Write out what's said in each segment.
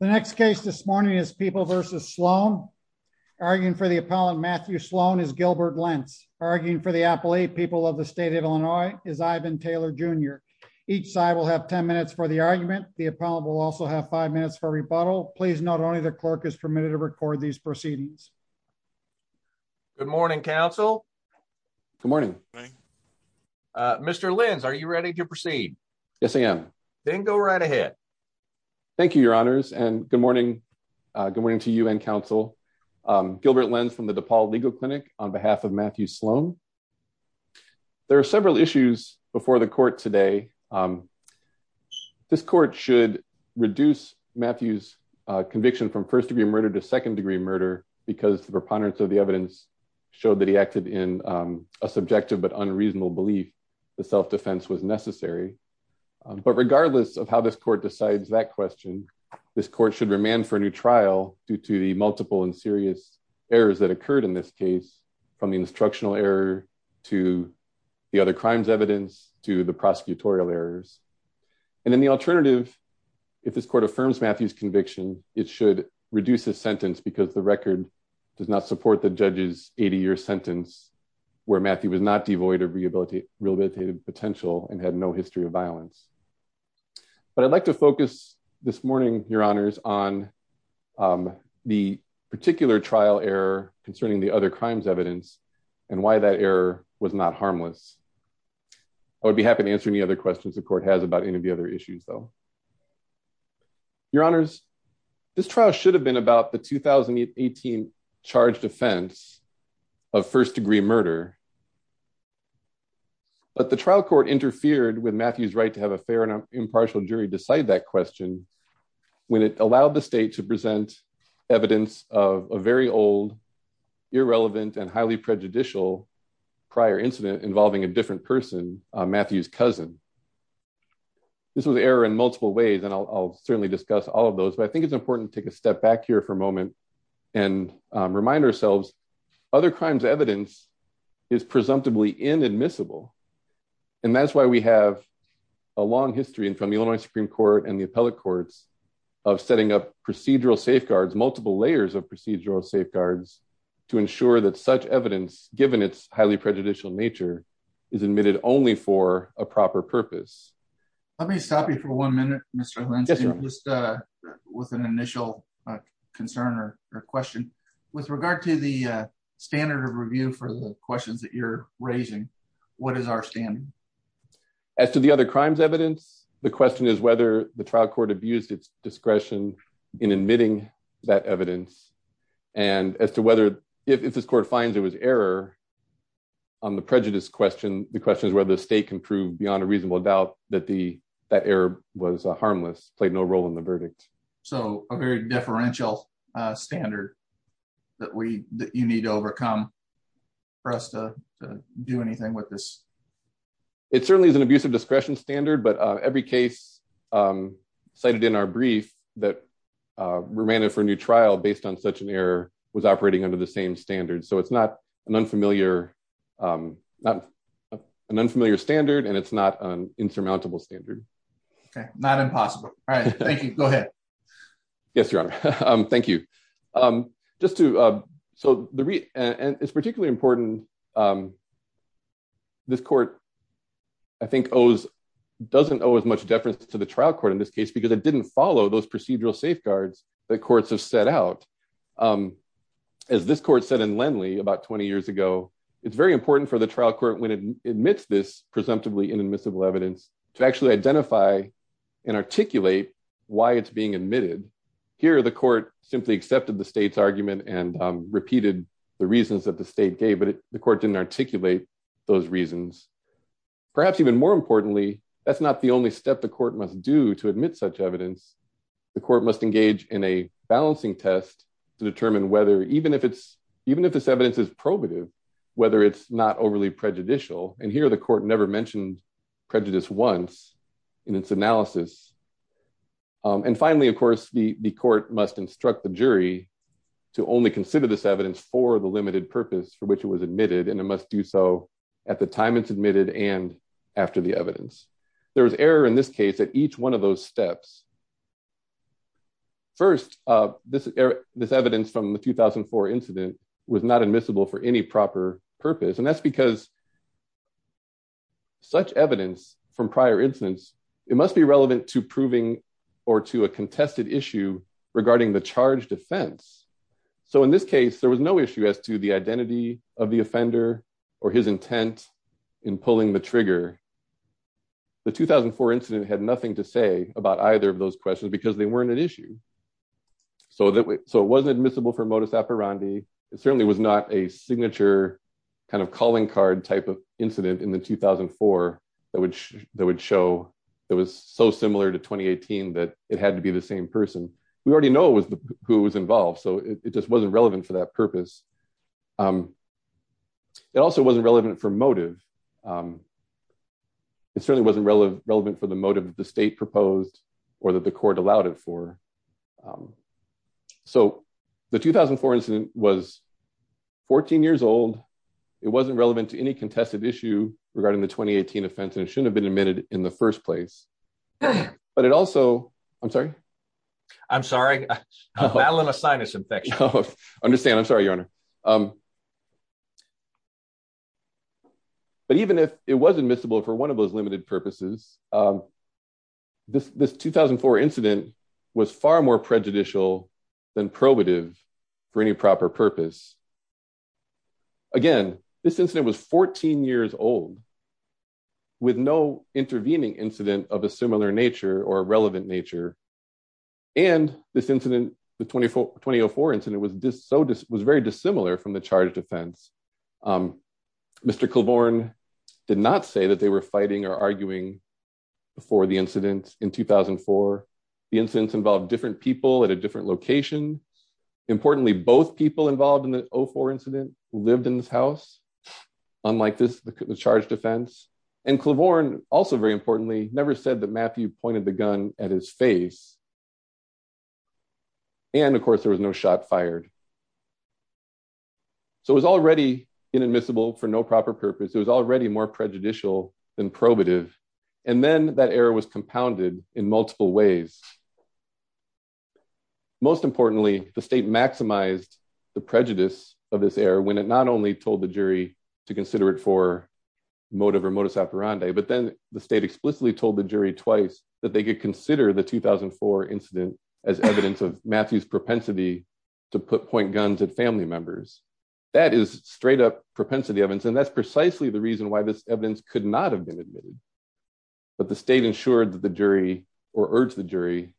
The next case this morning is people versus Sloan. Arguing for the appellant Matthew Sloan is Gilbert Lentz. Arguing for the appellate people of the state of Illinois is Ivan Taylor Jr. Each side will have 10 minutes for the argument. The appellant will also have five minutes for rebuttal. Please note only the clerk is permitted to record these proceedings. Good morning, counsel. Good morning. Mr. Lentz, are you ready to proceed? Yes, I am. Then go right ahead. Thank you, your honors. And good morning. Good morning to you and counsel. Gilbert Lentz from the DePaul Legal Clinic on behalf of Matthew Sloan. There are several issues before the court today. This court should reduce Matthew's conviction from first degree murder to second degree murder because the preponderance of the evidence showed that he acted in a subjective but unreasonable belief the self-defense was necessary. But regardless of how this court decides that question, this court should remand for a new trial due to the multiple and serious errors that occurred in this case, from the instructional error to the other crimes evidence to the prosecutorial errors. And then the alternative, if this court affirms Matthew's conviction, it should reduce his sentence because the record does not support the judge's 80-year sentence where Matthew was not devoid of rehabilitative potential and had no history of violence. But I'd like to focus this morning, your honors, on the particular trial error concerning the other crimes evidence and why that error was not harmless. I would be happy to answer any other questions the court has about any of the other issues, though. Your honors, this trial should have been about the 2018 charged offense of first degree murder. But the trial court interfered with Matthew's right to have a fair and impartial jury decide that question when it allowed the state to present evidence of a very old, irrelevant, and highly prejudicial prior incident involving a different person, Matthew's cousin. This was an error in multiple ways, and I'll certainly discuss all of those. But I think it's important to take a step back here for a moment and remind ourselves, other crimes evidence is presumptively inadmissible. And that's why we have a long history in front of the Illinois Supreme Court and the appellate courts of setting up procedural safeguards, multiple layers of procedural safeguards, to ensure that such evidence, given its highly prejudicial nature, is admitted only for a proper purpose. Let me stop you for one minute, Mr. Lindsay, just with an initial concern or question. With regard to the standard of review for the questions that you're raising, what is our standing? As to the other crimes evidence, the question is whether the trial court abused its discretion in admitting that evidence. And as to whether, if this court finds there was error on the prejudice question, the question is whether the state can prove beyond a reasonable doubt that that error was harmless, played no role in the verdict. So a very deferential standard that you need to overcome for us to do anything with this. It certainly is an abusive discretion standard, but every case cited in our brief that remanded for a new trial based on such an error was operating under the same standard. So it's not an unfamiliar standard and it's not an insurmountable standard. Okay, not impossible. All right, thank you. Go ahead. Yes, Your Honor. Thank you. Just to, so it's particularly important. This court, I think doesn't owe as much deference to the trial court in this case because it didn't follow those procedural safeguards that courts have set out. As this court said in Lenly about 20 years ago, it's very important for the trial court when it admits this presumptively inadmissible evidence to actually identify and articulate why it's being admitted. Here, the court simply accepted the state's argument and repeated the reasons that the state gave, but the court didn't articulate those reasons. Perhaps even more importantly, that's not the only step the court must do to admit such evidence. The court must engage in a balancing test to determine whether, even if this evidence is probative, whether it's not overly prejudicial. And here the court never mentioned prejudice once in its analysis. And finally, of course, the court must instruct the jury to only consider this evidence for the limited purpose for which it was admitted. And it must do so at the time it's admitted and after the evidence. There was error in this case at each one of those steps. First, this evidence from the 2004 incident was not admissible for any proper purpose. And that's because such evidence from prior incidents, it must be relevant to proving or to a contested issue regarding the charge defense. So in this case, there was no issue as to the identity of the offender or his intent in pulling the trigger. The 2004 incident had nothing to say about either of those questions because they weren't an issue. So it wasn't admissible for modus operandi. It certainly was not a signature kind of calling card type of incident in the 2004 that would show that was so similar to 2018 that it had to be the same person. We already know who was involved. So it just wasn't relevant for that purpose. It also wasn't relevant for motive. It certainly wasn't relevant for the motive that the state proposed or that the court allowed it for. So the 2004 incident was 14 years old. It wasn't relevant to any contested issue regarding the 2018 offense. And it shouldn't have been admitted in the first place. But it also, I'm sorry. I'm sorry, I'm battling a sinus infection. Understand, I'm sorry, your honor. But even if it was admissible for one of those limited purposes, this 2004 incident was far more prejudicial than probative for any proper purpose. Again, this incident was 14 years old with no intervening incident of a similar nature or relevant nature. And this incident, the 2004 incident was very dissimilar from the charge defense. Mr. Kilbourn did not say that they were fighting or arguing before the incident in 2004. The incidents involved different people at a different location. Importantly, both people involved in the 04 incident lived in this house. Unlike this, the charge defense. And Kilbourn, also very importantly, never said that Matthew pointed the gun at his face. And of course there was no shot fired. So it was already inadmissible for no proper purpose. It was already more prejudicial than probative. And then that error was compounded in multiple ways. Most importantly, the state maximized the prejudice of this error when it not only told the jury to consider it for motive or modus operandi, but then the state explicitly told the jury twice that they could consider the 2004 incident as evidence of Matthew's propensity to put point guns at family members. That is straight up propensity evidence. And that's precisely the reason why this evidence could not have been admitted. But the state ensured that the jury or urged the jury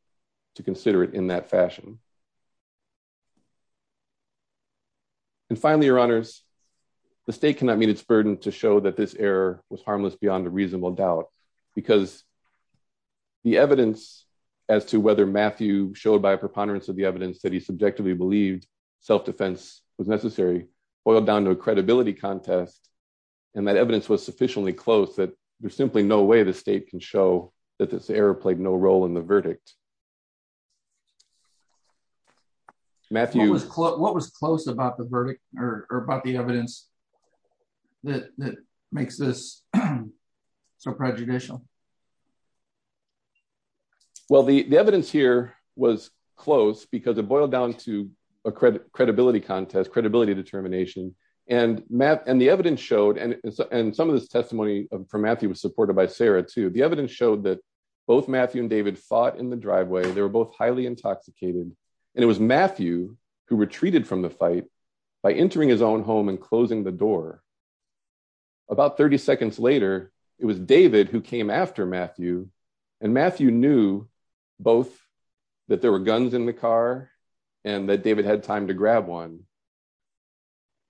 to consider it in that fashion. And finally, your honors, the state cannot meet its burden to show that this error was harmless beyond a reasonable doubt. Because the evidence as to whether Matthew showed by a preponderance of the evidence that he subjectively believed self-defense was necessary boiled down to a credibility contest. And that evidence was sufficiently close that there's simply no way the state can show that this error played no role in the verdict. Matthew. What was close about the verdict or about the evidence that makes this so prejudicial? Well, the evidence here was close because it boiled down to a credibility contest, credibility determination. And the evidence showed, and some of this testimony from Matthew was supported by Sarah too. The evidence showed that both Matthew and David fought in the driveway. They were both highly intoxicated. And it was Matthew who retreated from the fight by entering his own home and closing the door. About 30 seconds later, it was David who came after Matthew. And Matthew knew both that there were guns in the car and that David had time to grab one.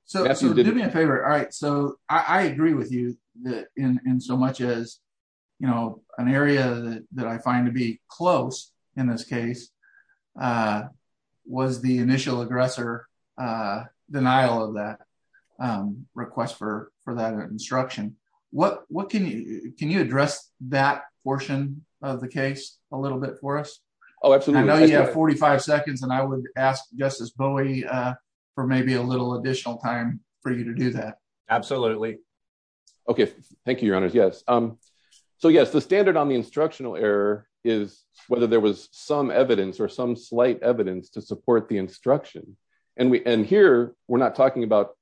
So do me a favor. All right. So I agree with you that in so much as an area that I find to be close in this case was the initial aggressor denial of that request for that instruction. Can you address that portion of the case a little bit for us? Oh, absolutely. I know you have 45 seconds and I would ask Justice Bowie for maybe a little additional time for you to do that. Absolutely. Thank you, Your Honors. Yes. So yes, the standard on the instructional error is whether there was some evidence or some slight evidence to support the instruction. And here we're not talking about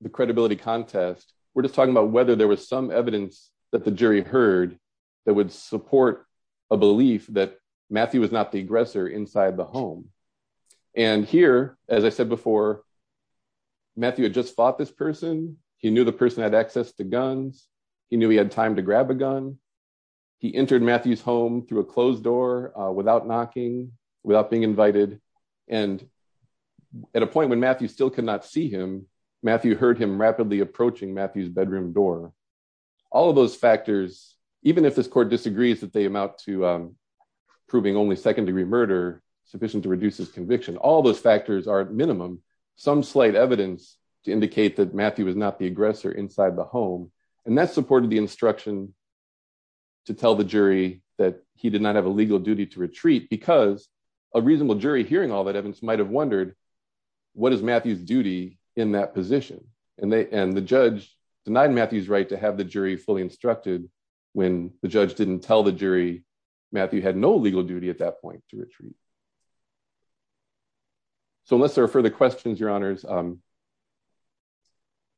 the credibility contest. We're just talking about whether there was some evidence that the jury heard that would support a belief that Matthew was not the aggressor inside the home. And here, as I said before, Matthew had just fought this person. He knew the person had access to guns. He knew he had time to grab a gun. He entered Matthew's home through a closed door without knocking, without being invited. And at a point when Matthew still could not see him, Matthew heard him rapidly approaching Matthew's bedroom door. All of those factors, even if this court disagrees that they amount to proving only second degree murder sufficient to reduce his conviction, all those factors are at minimum some slight evidence to indicate that Matthew was not the aggressor inside the home. And that supported the instruction to tell the jury that he did not have a legal duty to retreat because a reasonable jury hearing all that evidence might have wondered, what is Matthew's duty in that position? And the judge denied Matthew's right to have the jury fully instructed when the judge didn't tell the jury Matthew had no legal duty at that point to retreat. So unless there are further questions, your honors,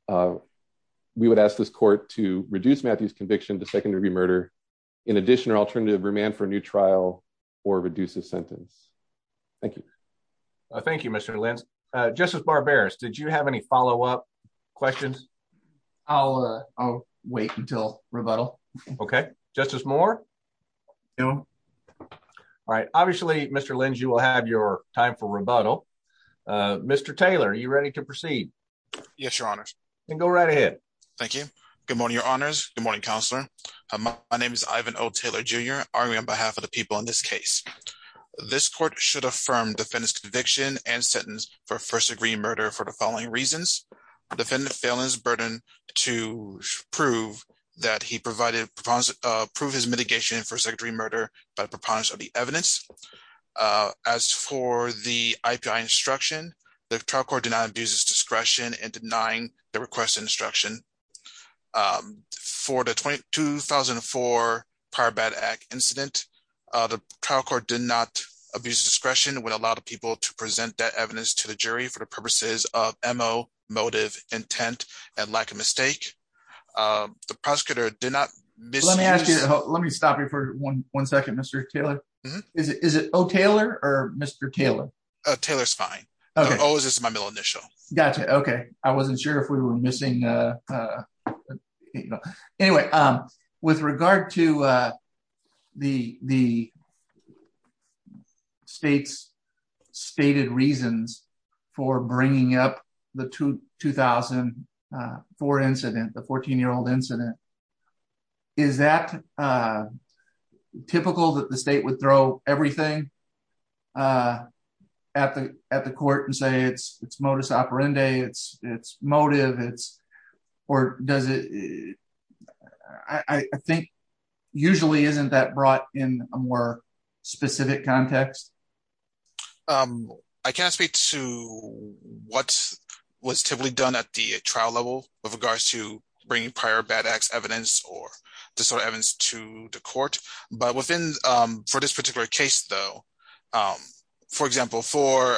we would ask this court to reduce Matthew's conviction to second degree murder. In addition, or alternative remand for a new trial or reduce the sentence. Thank you. Thank you, Mr. Lentz. Justice Barberis, did you have any follow-up questions? I'll wait until rebuttal. Okay. Justice Moore? No. All right. Obviously, Mr. Lentz, you will have your time for rebuttal. Mr. Taylor, are you ready to proceed? Yes, your honors. And go right ahead. Thank you. Good morning, your honors. Good morning, counselor. My name is Ivan O. Taylor Jr. I'm on behalf of the people in this case. This court should affirm defendant's conviction and sentence for first degree murder for the following reasons. Defendant's failing his burden to prove that he provided proved his mitigation for second degree murder by the preponderance of the evidence. As for the IPI instruction, the trial court did not abuse its discretion in denying the requested instruction. For the 2004 Prior Bad Act incident, the trial court did not abuse discretion when a lot of people to present that evidence to the jury for the purposes of MO, motive, intent, and lack of mistake. The prosecutor did not miss... Let me stop you for one second, Mr. Taylor. Is it O. Taylor or Mr. Taylor? Taylor's fine. O is my middle initial. Gotcha. Okay. I wasn't sure if we were missing... Anyway, with regard to the state's stated reasons for bringing up the 2004 incident, the 14-year-old incident, is that typical that the state would throw everything at the court and say it's modus operandi, it's motive, or does it... I think usually isn't that brought in a more specific context? I can't speak to what was typically done at the trial level with regards to bringing prior bad acts evidence or disorder evidence to the court. But for this particular case, though, for example, for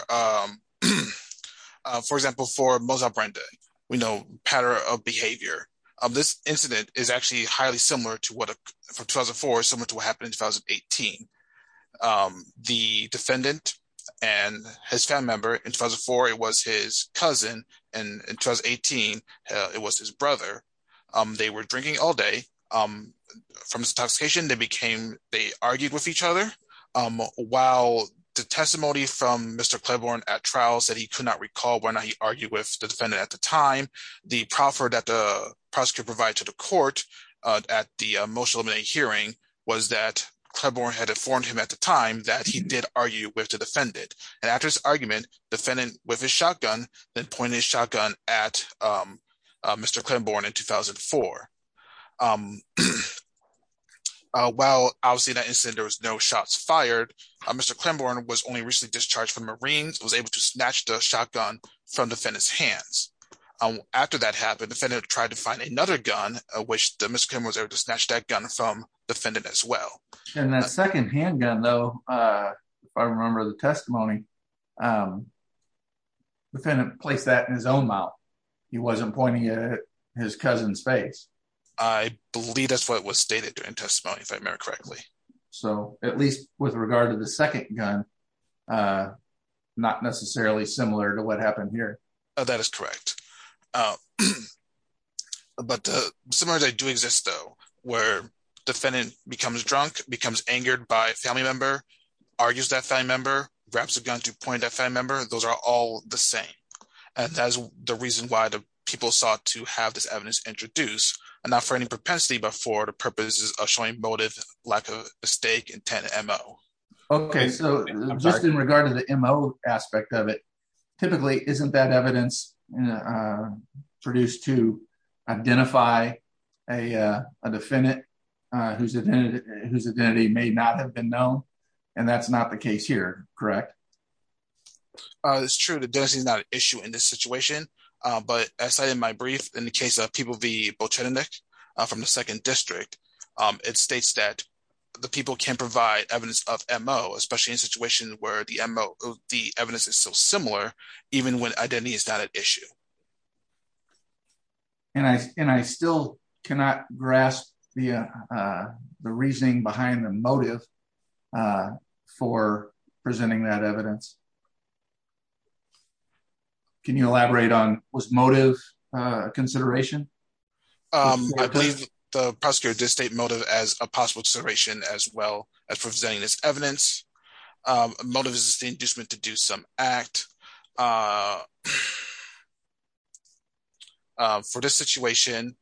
Mozambique, we know pattern of behavior. This incident is actually highly similar to what... From 2004, similar to what happened in 2018. The defendant and his family member, in 2004, it was his cousin, and in 2018, it was his brother. They were drinking all day. From this intoxication, they became... They argued with each other. While the testimony from Mr. Claiborne at trial said he could not recall when he argued with the defendant at the time, the proffer that the prosecutor provided to the court at the motion-eliminated hearing was that Claiborne had informed him at the time that he did argue with the defendant. And after his argument, the defendant, with his shotgun, then pointed his shotgun at Mr. Claiborne in 2004. While obviously in that incident, there was no shots fired, Mr. Claiborne was only recently discharged from the Marines, was able to snatch the shotgun from the defendant's hands. After that happened, the defendant tried to find another gun, which Mr. Claiborne was able to snatch that gun from the defendant as well. And that second handgun, though, if I remember the testimony, the defendant placed that in his own mouth. He wasn't pointing it at his cousin's face. I believe that's what was stated in testimony, if I remember correctly. So at least with regard to the second gun, not necessarily similar to what happened here. That is correct. But similar to that do exist though, where defendant becomes drunk, becomes angered by a family member, argues that family member, grabs a gun to point at that family member, those are all the same. And that's the reason why the people sought to have this evidence introduced. And not for any propensity, but for the purposes of showing motive, lack of mistake, intent, and MO. Okay, so just in regard to the MO aspect of it, typically isn't that evidence, produced to identify a defendant whose identity may not have been known. And that's not the case here, correct? It's true that this is not an issue in this situation. But as I said in my brief, in the case of people, the Bochenek from the second district, it states that the people can provide evidence of MO, especially in situations where the MO, the evidence is so similar, even when identity is not an issue. And I still cannot grasp the reasoning behind the motive for presenting that evidence. Can you elaborate on, was motive a consideration? I believe the prosecutor did state motive as a possible consideration as well as for presenting this evidence. Motive is just meant to do some act. For this situation,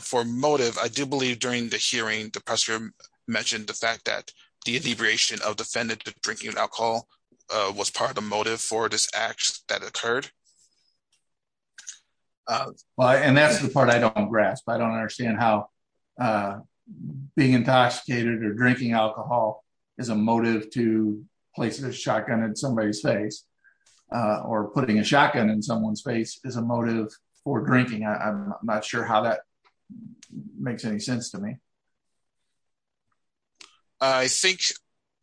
for motive, I do believe during the hearing, the prosecutor mentioned the fact that the integration of defendant to drinking alcohol was part of the motive for this act that occurred. And that's the part I don't grasp. I don't understand how being intoxicated or drinking alcohol is a motive to placing a shotgun in somebody's face or putting a shotgun in someone's face is a motive for drinking. I'm not sure how that makes any sense to me. I think,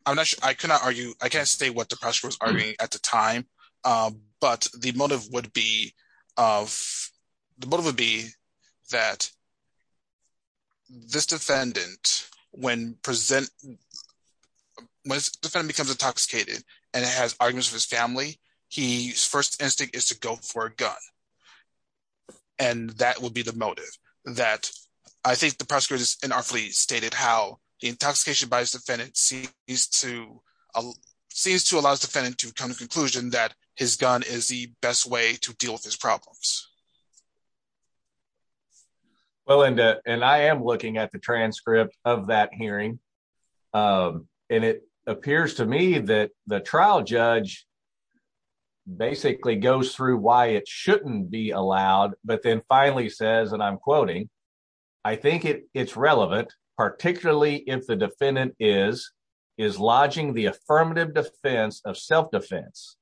I'm not sure, I cannot argue, I can't say what the prosecutor was arguing at the time, but the motive would be of, the motive would be that this defendant, when present, when defendant becomes intoxicated and has arguments with his family, his first instinct is to go for a gun. And that would be the motive. That, I think the prosecutor unartfully stated how the intoxication by his defendant seems to allow his defendant to come to conclusion that his gun is the best way to deal with his problems. Well, and I am looking at the transcript of that hearing. And it appears to me that the trial judge basically goes through why it shouldn't be allowed, but then finally says, and I'm quoting, I think it's relevant, particularly if the defendant is, is lodging the affirmative defense of self-defense.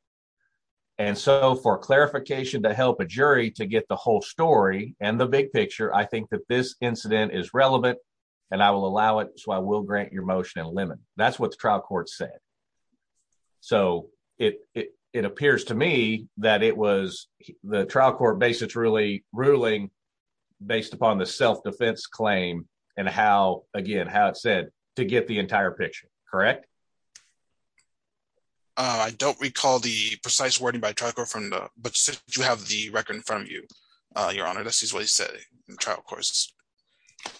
And so for clarification to help a jury to get the whole story and the big picture, I think that this incident is relevant and I will allow it. So I will grant your motion and limit. That's what the trial court said. So it appears to me that it was the trial court basis really ruling based upon the self-defense claim and how, again, how it said to get the entire picture. Correct? I don't recall the precise wording by trial court from the, but since you have the record in front of you, your honor, this is what he said in the trial courts. Okay.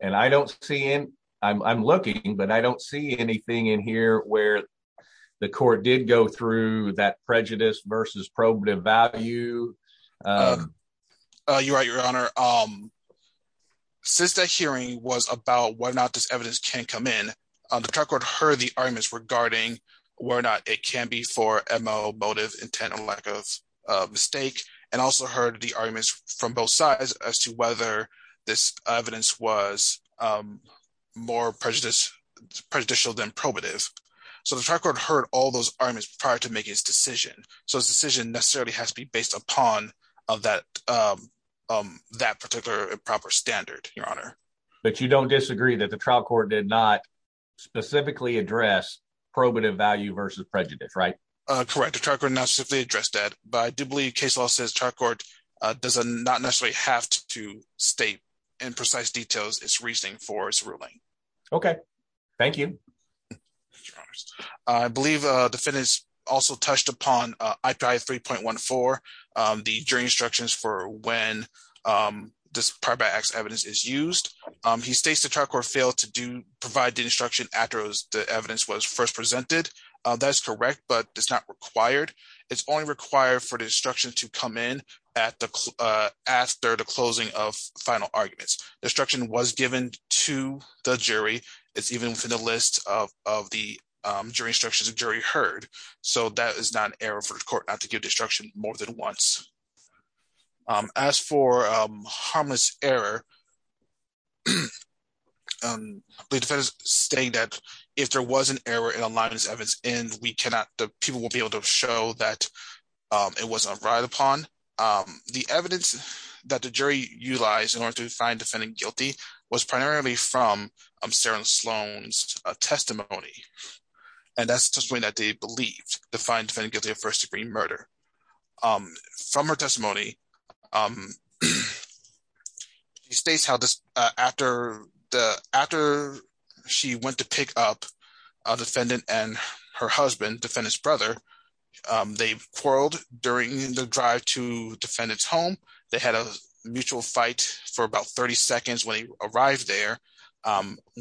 And I don't see in, I'm looking, but I don't see anything in here where the court did go through that prejudice versus probative value. You're right, your honor. Since that hearing was about why not this evidence can come in, the trial court heard the arguments regarding where not it can be for MO, motive, intent, or lack of mistake. And also heard the arguments from both sides as to whether this evidence was more prejudicial than probative. So the trial court heard all those arguments prior to making his decision. So his decision necessarily has to be based upon that particular improper standard, your honor. But you don't disagree that the trial court did not specifically address probative value versus prejudice, right? Correct, the trial court not specifically addressed that, but I do believe case law says trial court does not necessarily have to state in precise details its reasoning for its ruling. Okay, thank you. I believe the defendants also touched upon IPI 3.14, the jury instructions for when this prior by X evidence is used. He states the trial court failed to do, provide the instruction after the evidence was first presented. That's correct, but it's not required. It's only required for the instruction to come in after the closing of final arguments. The instruction was given to the jury. It's even within the list of the jury instructions the jury heard. So that is not an error for the court not to give the instruction more than once. As for harmless error, the defendant is stating that if there was an error in a line of evidence, the people will be able to show that it wasn't right upon. The evidence that the jury utilized in order to find defendant guilty was primarily from Sarah Sloan's testimony. And that's the testimony that they believed to find defendant guilty of first degree murder. From her testimony, she states how after she went to pick up a defendant and her husband, defendant's brother, they quarreled during the drive to defendant's home. They had a mutual fight for about 30 seconds when he arrived there.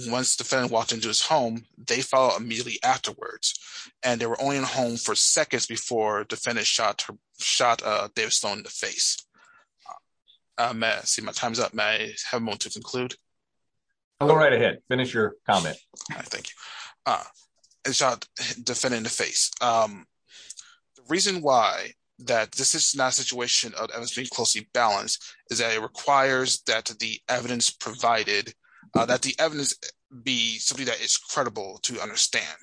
Once the defendant walked into his home, they followed immediately afterwards. And they were only in home for seconds before defendant shot David Sloan in the face. Let's see, my time's up. May I have a moment to conclude? I'll go right ahead. Finish your comment. All right, thank you. And shot defendant in the face. The reason why that this is not a situation of evidence being closely balanced is that it requires that the evidence provided, that the evidence be something that is credible to understand.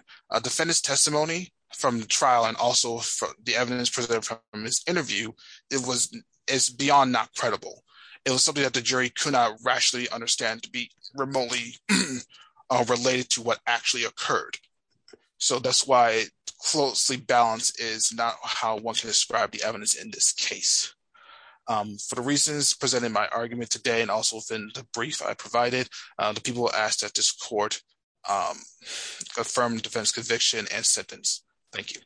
Defendant's testimony from the trial and also the evidence presented from this interview, it's beyond not credible. It was something that the jury could not rationally understand to be remotely related to what actually occurred. So that's why closely balanced is not how one can describe the evidence in this case. For the reasons presented in my argument today and also within the brief I provided, the people asked at this court affirmed defense conviction and sentence. Thank you.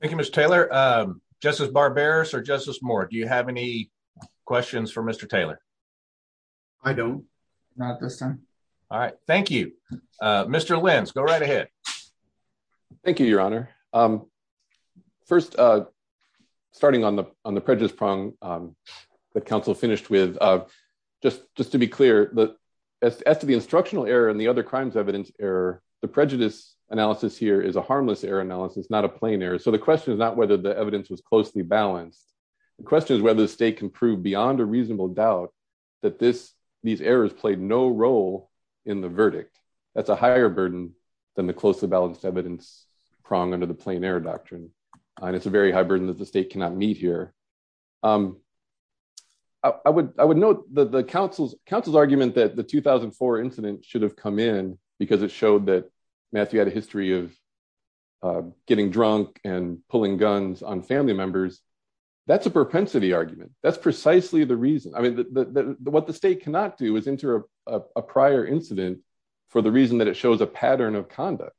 Thank you, Mr. Taylor. Justice Barberis or Justice Moore, do you have any questions for Mr. Taylor? I don't, not at this time. All right, thank you. Mr. Lenz, go right ahead. Thank you, your honor. First, starting on the prejudice prong that counsel finished with, just to be clear, as to the instructional error and the other crimes evidence error, the prejudice analysis here is a harmless error analysis, not a plain error. So the question is not whether the evidence was closely balanced. The question is whether the state can prove beyond a reasonable doubt that these errors played no role in the verdict. That's a higher burden than the closely balanced evidence prong under the plain error doctrine. And it's a very high burden that the state cannot meet here. I would note that the counsel's argument that the 2004 incident should have come in because it showed that Matthew had a history of getting drunk and pulling guns on family members. That's a propensity argument. That's precisely the reason. What the state cannot do is enter a prior incident for the reason that it shows a pattern of conduct.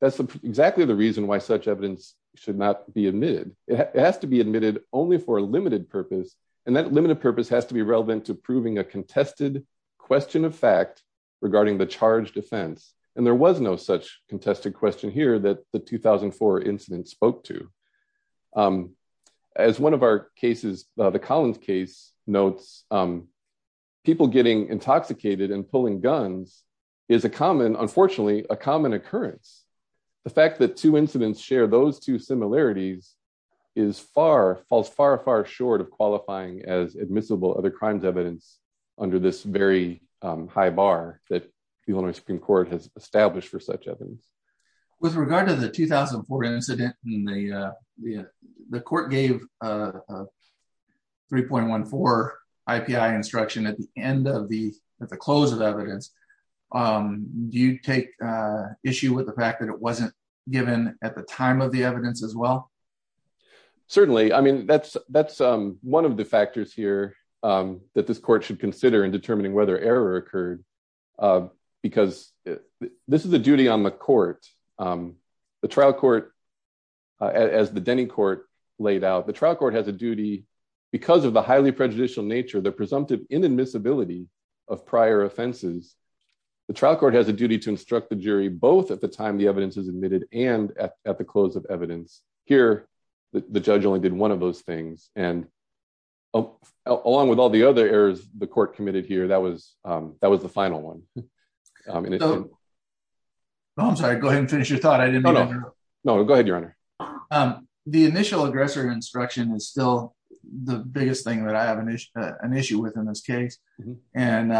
That's exactly the reason why such evidence should not be admitted. It has to be admitted only for a limited purpose. And that limited purpose has to be relevant to proving a contested question of fact regarding the charge defense. And there was no such contested question here that the 2004 incident spoke to. As one of our cases, the Collins case notes, people getting intoxicated and pulling guns is a common, unfortunately, a common occurrence. The fact that two incidents share those two similarities falls far, far short of qualifying as admissible other crimes evidence under this very high bar that the Illinois Supreme Court has established for such evidence. With regard to the 2004 incident, the court gave a 3.14 IPI instruction at the end of the, at the close of evidence. Do you take issue with the fact that it wasn't given at the time of the evidence as well? Certainly. I mean, that's one of the factors here that this court should consider in determining whether error occurred. Because this is a duty on the court. The trial court, as the Denny court laid out, the trial court has a duty because of the highly prejudicial nature, the presumptive inadmissibility of prior offenses. The trial court has a duty to instruct the jury both at the time the evidence is admitted and at the close of evidence. Here, the judge only did one of those things. And along with all the other errors the court committed here, that was the final one. I mean, I'm sorry, go ahead and finish your thought. I didn't know. No, go ahead, your honor. The initial aggressor instruction is still the biggest thing that I have an issue with in this case. And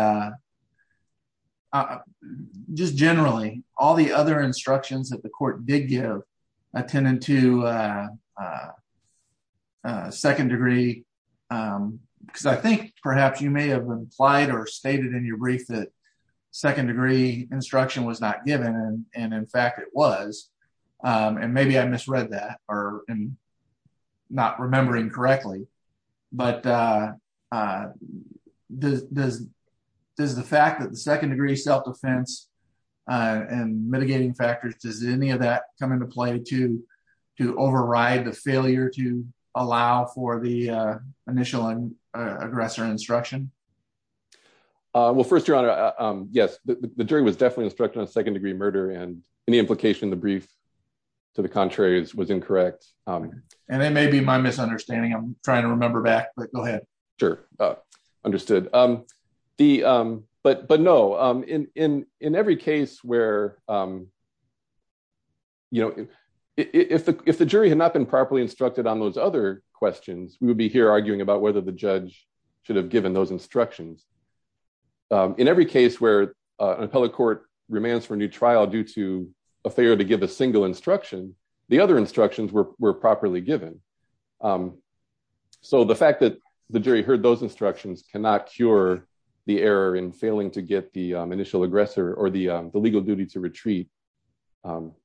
just generally, all the other instructions that the court did give attended to second degree. Because I think perhaps you may have implied or stated in your brief that second degree instruction was not given. And in fact, it was. And maybe I misread that or not remembering correctly. But does the fact that the second degree self-defense and mitigating factors, does any of that come into play to override the failure to allow for the initial aggressor instruction? Well, first, your honor, yes. The jury was definitely instructed on second degree murder and any implication in the brief to the contrary was incorrect. And it may be my misunderstanding. I'm trying to remember back, but go ahead. Sure, understood. But no, in every case where, if the jury had not been properly instructed on those other questions, we would be here arguing about whether the judge should have given those instructions in every case where an appellate court remains for a new trial due to a failure to give a single instruction, the other instructions were properly given. So the fact that the jury heard those instructions cannot cure the error in failing to get the initial aggressor or the legal duty to retreat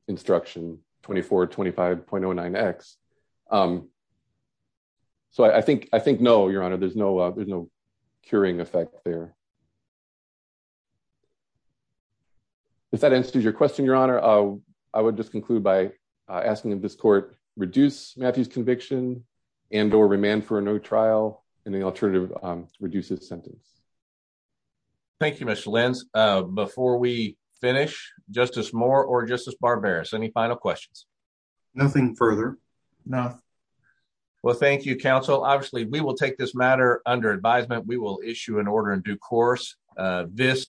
instruction 2425.09X. So I think, no, your honor, there's no cure for that. There's no curing effect there. If that answers your question, your honor, I would just conclude by asking if this court reduce Matthew's conviction and or remand for a new trial and the alternative to reduce his sentence. Thank you, Mr. Lenz. Before we finish, Justice Moore or Justice Barberis, any final questions? Nothing further. Nothing. Well, thank you, counsel. Obviously, we will take this matter under advisement. We will issue an order in due course. This.